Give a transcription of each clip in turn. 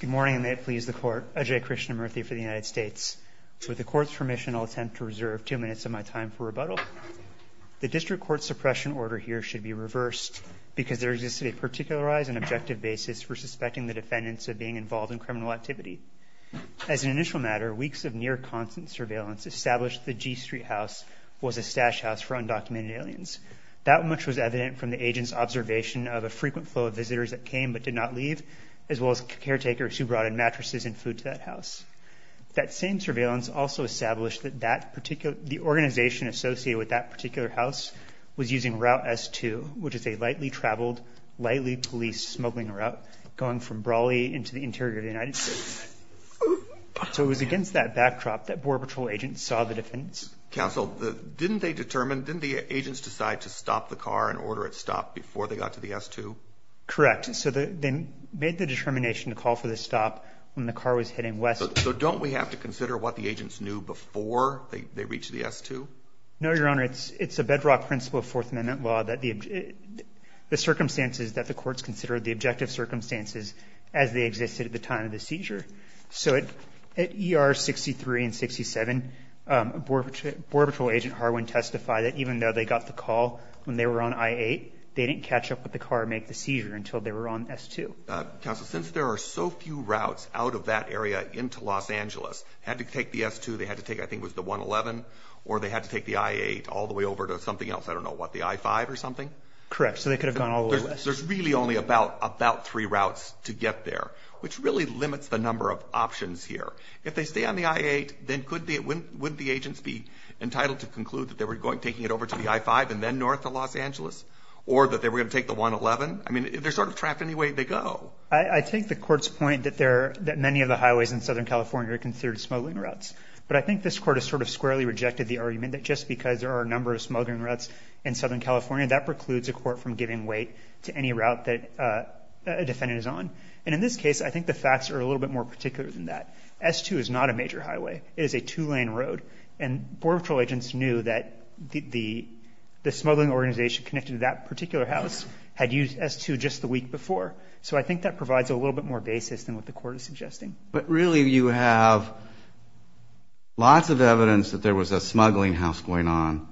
Good morning, and may it please the Court. Ajay Krishnamoorthi for the United States. With the Court's permission, I'll attempt to reserve two minutes of my time for rebuttal. The district court suppression order here should be reversed because there exists a particularized and objective basis for suspecting the defendants of being involved in criminal activity. As an initial matter, weeks of near-constant surveillance established the G Street house was a stash house for undocumented aliens. That much was evident from the agent's observation of a frequent flow of visitors that came but did not leave, as well as caretakers who brought in mattresses and food to that house. That same surveillance also established that the organization associated with that particular house was using Route S2, which is a lightly traveled, lightly policed smuggling route going from Brawley into the interior of the United States. So it was against that backdrop that Border Patrol agents saw the defendants. Counsel, didn't the agents decide to stop the car and order it stopped before they got to the S2? Correct. So they made the determination to call for the stop when the car was heading west. So don't we have to consider what the agents knew before they reached the S2? No, Your Honor. It's a bedrock principle of Fourth Amendment law that the circumstances that the courts considered the objective circumstances as they existed at the time of the seizure. So at ER 63 and 67, Border Patrol Agent Harwin testified that even though they got the call when they were on I-8, they didn't catch up with the car and make the seizure until they were on S2. Counsel, since there are so few routes out of that area into Los Angeles, had to take the S2, they had to take, I think it was the 111, or they had to take the I-8 all the way over to something else, I don't know, what, the I-5 or something? Correct. So they could have gone all the way west. There's really only about three routes to get there, which really limits the number of options here. If they stay on the I-8, then wouldn't the agents be entitled to conclude that they were taking it over to the I-5 and then north to Los Angeles? Or that they were going to take the 111? I mean, they're sort of trapped any way they go. I take the Court's point that many of the highways in Southern California are considered smuggling routes. But I think this Court has sort of squarely rejected the argument that just because there are a number of smuggling routes in Southern California, that precludes a court from giving weight to any route that a defendant is on. And in this case, I think the facts are a little bit more particular than that. S2 is not a major highway. It is a two-lane road. And Border Patrol agents knew that the smuggling organization connected to that particular house had used S2 just the week before. So I think that provides a little bit more basis than what the Court is suggesting. But really, you have lots of evidence that there was a smuggling house going on,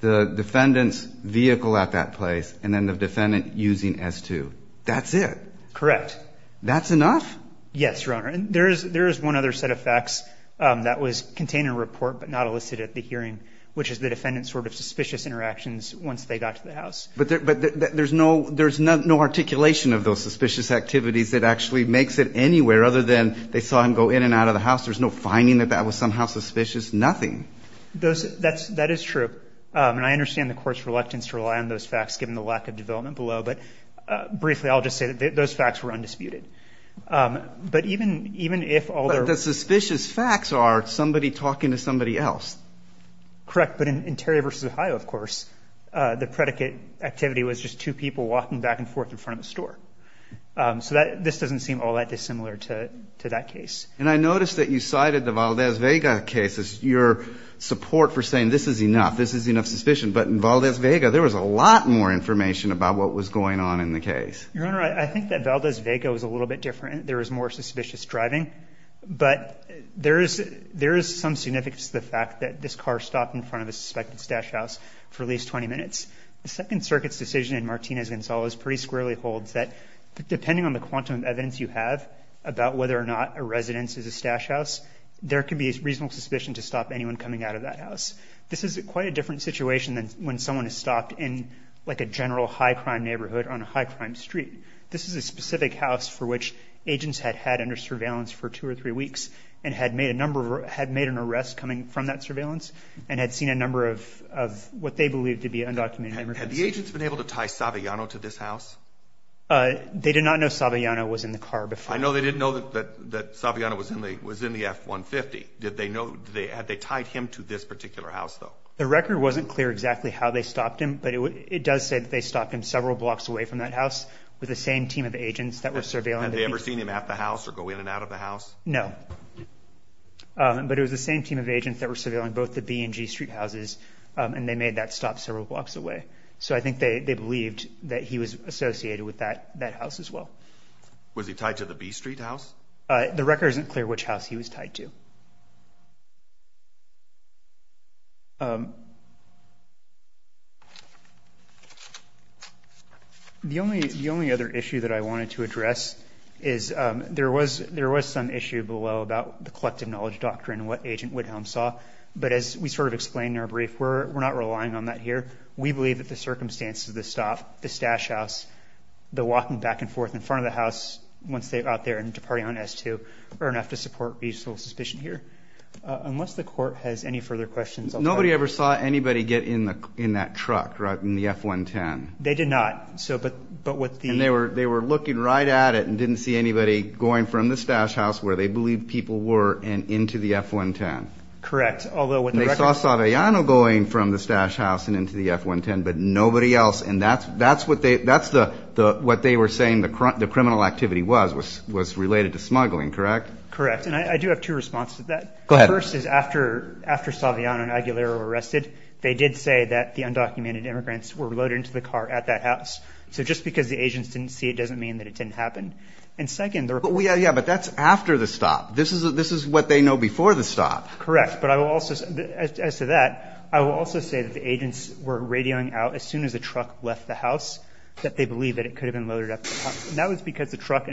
the defendant's vehicle at that place, and then the defendant using S2. That's it? Correct. That's enough? Yes, Your Honor. And there is one other set of facts that was contained in the report but not elicited at the hearing, which is the defendant's sort of suspicious interactions once they got to the house. But there's no articulation of those suspicious activities that actually makes it anywhere other than they saw him go in and out of the house. There's no finding that that was somehow suspicious, nothing. That is true. And I understand the Court's reluctance to rely on those facts given the lack of development below. But briefly, I'll just say that those facts were undisputed. But even if all the... But the suspicious facts are somebody talking to somebody else. Correct. But in Terry v. Ohio, of course, the predicate activity was just two people walking back and forth in front of a store. So this doesn't seem all that dissimilar to that case. And I noticed that you cited the Valdez-Vega case as your support for saying this is enough, this is enough suspicion. But in Valdez-Vega, there was a lot more information about what was going on in the case. Your Honor, I think that Valdez-Vega was a little bit different. There was more suspicious driving. But there is some significance to the fact that this car stopped in front of a suspected stash house for at least 20 minutes. The Second Circuit's decision in Martinez-Gonzalez pretty squarely holds that depending on the quantum of evidence you have about whether or not a residence is a stash house, there could be reasonable suspicion to stop anyone coming out of that house. This is quite a different situation than when someone is stopped in, like, a general high-crime neighborhood on a high-crime street. This is a specific house for which agents had had under surveillance for two or three weeks and had made a number of or had made an arrest coming from that surveillance and had seen a number of what they believed to be undocumented immigrants. Had the agents been able to tie Saviano to this house? They did not know Saviano was in the car before. I know they didn't know that Saviano was in the F-150. Did they know? Had they tied him to this particular house, though? The record wasn't clear exactly how they stopped him, but it does say that they stopped him several blocks away from that house with the same team of agents that were surveilling. Had they ever seen him at the house or going in and out of the house? No. But it was the same team of agents that were surveilling both the B and G Street houses, and they made that stop several blocks away. So I think they believed that he was associated with that house as well. Was he tied to the B Street house? The record isn't clear which house he was tied to. The only other issue that I wanted to address is there was some issue below about the collective knowledge doctrine, what Agent Whitelm saw. But as we sort of explained in our brief, we're not relying on that here. We believe that the circumstances of the stop, the stash house, the walking back and forth in front of the house once they got there and departed on S2, are enough to support reasonable suspicion here. They never saw anybody get in that truck, right, in the F-110? They did not. And they were looking right at it and didn't see anybody going from the stash house where they believed people were and into the F-110? Correct. And they saw Saviano going from the stash house and into the F-110, but nobody else? And that's what they were saying the criminal activity was, was related to smuggling, correct? Correct. And I do have two responses to that. Go ahead. The first is after, after Saviano and Aguilero were arrested, they did say that the undocumented immigrants were loaded into the car at that house. So just because the agents didn't see it doesn't mean that it didn't happen. And second, the report. Yeah, yeah. But that's after the stop. This is, this is what they know before the stop. Correct. But I will also, as to that, I will also say that the agents were radioing out as soon as the truck left the house that they believed that it could have been loaded up the house. And that was because the truck,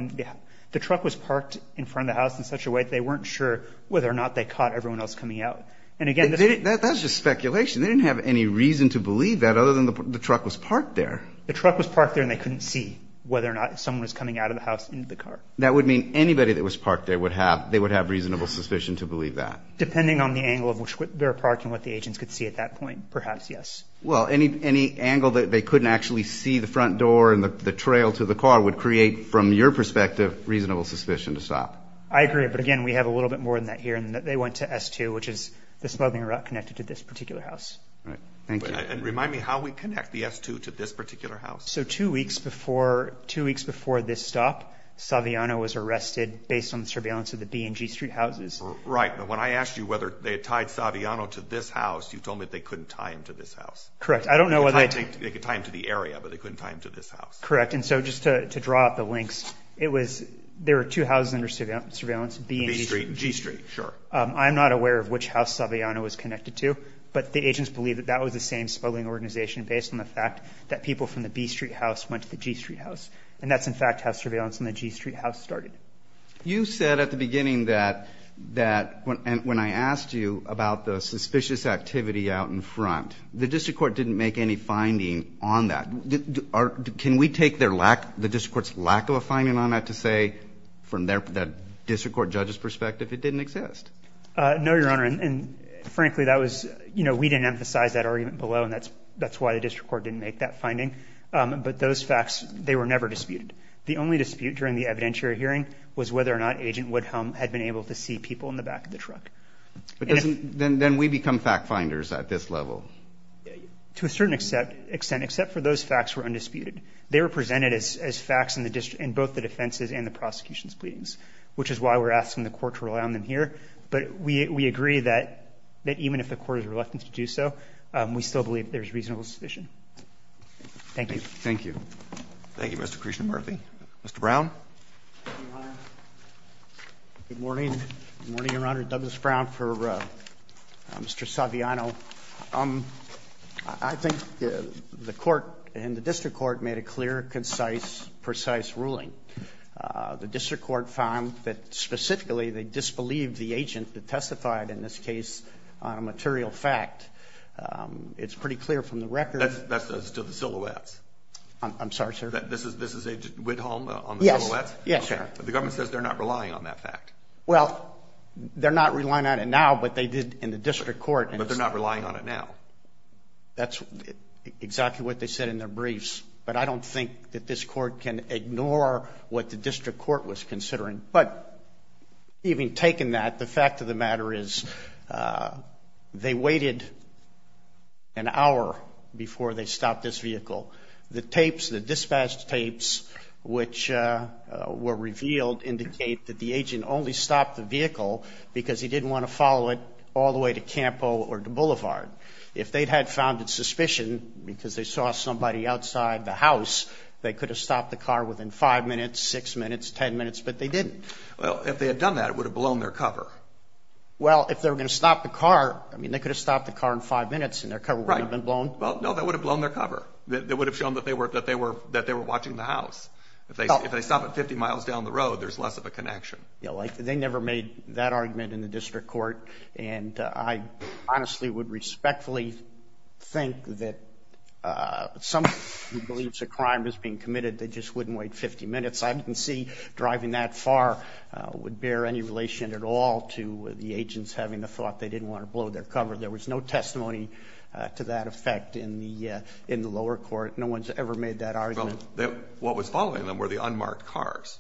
the truck was parked in front of the house in such a way that they weren't sure whether or not they caught everyone else coming out. And again, That's just speculation. They didn't have any reason to believe that other than the truck was parked there. The truck was parked there and they couldn't see whether or not someone was coming out of the house into the car. That would mean anybody that was parked there would have, they would have reasonable suspicion to believe that. Depending on the angle of which their parking, what the agents could see at that point. Perhaps. Yes. Well, any, any angle that they couldn't actually see the front door and the trail to the car would create from your perspective, reasonable suspicion to stop. I agree. But again, we have a little bit more than that here and that they went to S2, which is the smuggling route connected to this particular house. Right. Thank you. And remind me how we connect the S2 to this particular house. So two weeks before, two weeks before this stop, Saviano was arrested based on the surveillance of the B and G street houses. Right. But when I asked you whether they had tied Saviano to this house, you told me that they couldn't tie him to this house. Correct. I don't know. They could tie him to the area, but they couldn't tie him to this house. Correct. And so just to draw up the links, it was, there were two houses under surveillance B and G street. Sure. I'm not aware of which house Saviano was connected to, but the agents believe that that was the same smuggling organization based on the fact that people from the B street house went to the G street house. And that's in fact how surveillance in the G street house started. You said at the beginning that, that when, and when I asked you about the suspicious activity out in front, the district court didn't make any finding on that. Can we take their lack, the district court's lack of a finding on that to say from their, that district court judge's perspective, it didn't exist. No, Your Honor. And frankly, that was, you know, we didn't emphasize that argument below and that's, that's why the district court didn't make that finding. But those facts, they were never disputed. The only dispute during the evidentiary hearing was whether or not agent Woodhull had been able to see people in the back of the truck. Then we become fact finders at this level. To a certain extent, except for those facts were undisputed. They were presented as, as facts in the district and both the defenses and the prosecution's pleadings, which is why we're asking the court to rely on them here. But we, we agree that, that even if the court is reluctant to do so we still believe there's reasonable suspicion. Thank you. Thank you. Thank you, Mr. Christian Murphy, Mr. Brown. Good morning. Morning, Your Honor. Douglas Brown for Mr. Saviano. I think the, the district court and the district court made a clear, concise, precise ruling. Uh, the district court found that specifically they disbelieved the agent that testified in this case on a material fact. Um, it's pretty clear from the record. That's, that's still the silhouettes. I'm sorry, sir. This is, this is a Widholm on the silhouettes. Yes, sir. But the government says they're not relying on that fact. Well, they're not relying on it now, but they did in the district court. But they're not relying on it now. That's exactly what they said in their briefs. But I don't think that this court can ignore what the district court was considering. But even taking that, the fact of the matter is, uh, they waited an hour before they stopped this vehicle. The tapes, the dispatched tapes, which, uh, uh, were revealed indicate that the agent only stopped the vehicle because he didn't want to follow it all the way to Campo or to Boulevard. If they'd had founded suspicion because they saw somebody outside the house, they could have stopped the car within five minutes, six minutes, 10 minutes, but they didn't. Well, if they had done that, it would have blown their cover. Well, if they were going to stop the car, I mean, they could have stopped the car in five minutes and their cover would have been blown. Well, no, that would have blown their cover. That would have shown that they were, that they were, that they were watching the house. If they, if they stop at 50 miles down the road, there's less of a connection. Yeah. Like, they never made that argument in the district court. And I honestly would respectfully think that, uh, some believes a crime is being committed. They just wouldn't wait 50 minutes. I didn't see driving that far, uh, would bear any relation at all to the agents having the thought they didn't want to blow their cover. There was no testimony to that effect in the, uh, in the lower court. No one's ever made that argument. What was following them were the unmarked cars.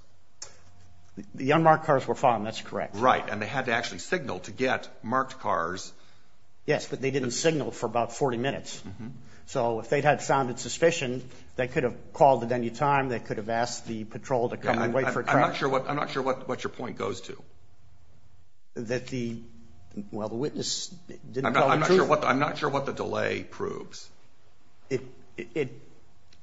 The unmarked cars were fine. That's correct. Right. And they had to actually signal to get marked cars. Yes, but they didn't signal for about 40 minutes. So if they'd had founded suspicion, they could have called at any time. They could have asked the patrol to come and wait for it. I'm not sure what, I'm not sure what, what your point goes to. That the, well, the witness, I'm not sure what, I'm not sure what the delay proves. It, it, it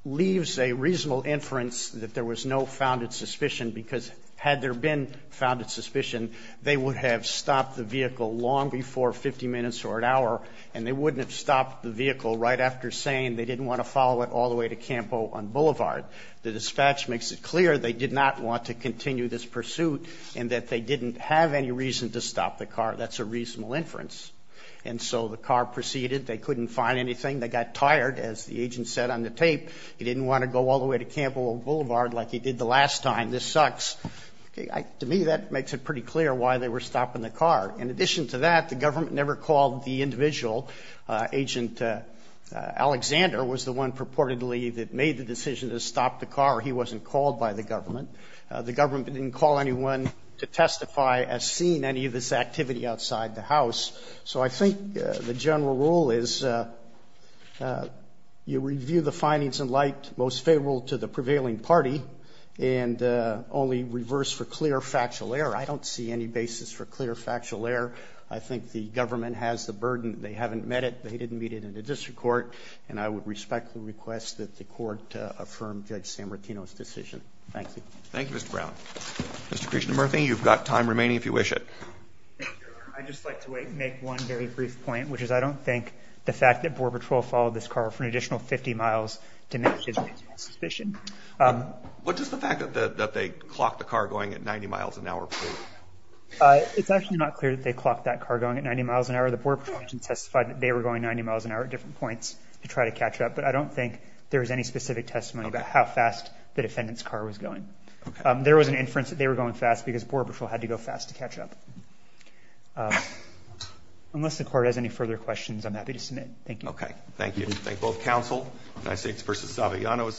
leaves a reasonable inference that there was no founded suspicion because had there been founded suspicion, they would have stopped the vehicle long before 50 minutes or an hour and they wouldn't have stopped the vehicle right after saying they didn't want to follow it all the way to Campo on Boulevard. The dispatch makes it clear they did not want to continue this pursuit and that they didn't have any reason to stop the car. That's a reasonable inference. And so the car proceeded. They couldn't find anything. They got tired. As the agent said on the tape, he didn't want to go all the way to Campo Boulevard like he did the last time. This sucks. Okay. To me, that makes it pretty clear why they were stopping the car. In addition to that, the government never called the individual. Agent Alexander was the one purportedly that made the decision to stop the car. He wasn't called by the government. The government didn't call anyone to testify as seeing any of this activity outside the house. So I think the general rule is you review the findings in light most favorable to the prevailing party and only reverse for clear factual error. I don't see any basis for clear factual error. I think the government has the burden. They haven't met it. They didn't meet it in the district court. And I would respectfully request that the court affirm Judge San Martino's decision. Thank you. Thank you, Mr. Brown. Mr. Christian Murphy, you've got time remaining if you wish it. I just like to make one very brief point, which is I don't think the fact that Border Patrol followed this car for an hour makes me have suspicion. What does the fact that they clocked the car going at 90 miles an hour prove? It's actually not clear that they clocked that car going at 90 miles an hour. The Border Patrol agent testified that they were going 90 miles an hour at different points to try to catch up. But I don't think there was any specific testimony about how fast the defendant's car was going. There was an inference that they were going fast because Border Patrol had to go fast to catch up. Unless the court has any further questions, I'm happy to submit. Thank you. Okay. Thank you. Thank you. Thank both counsel. United States v.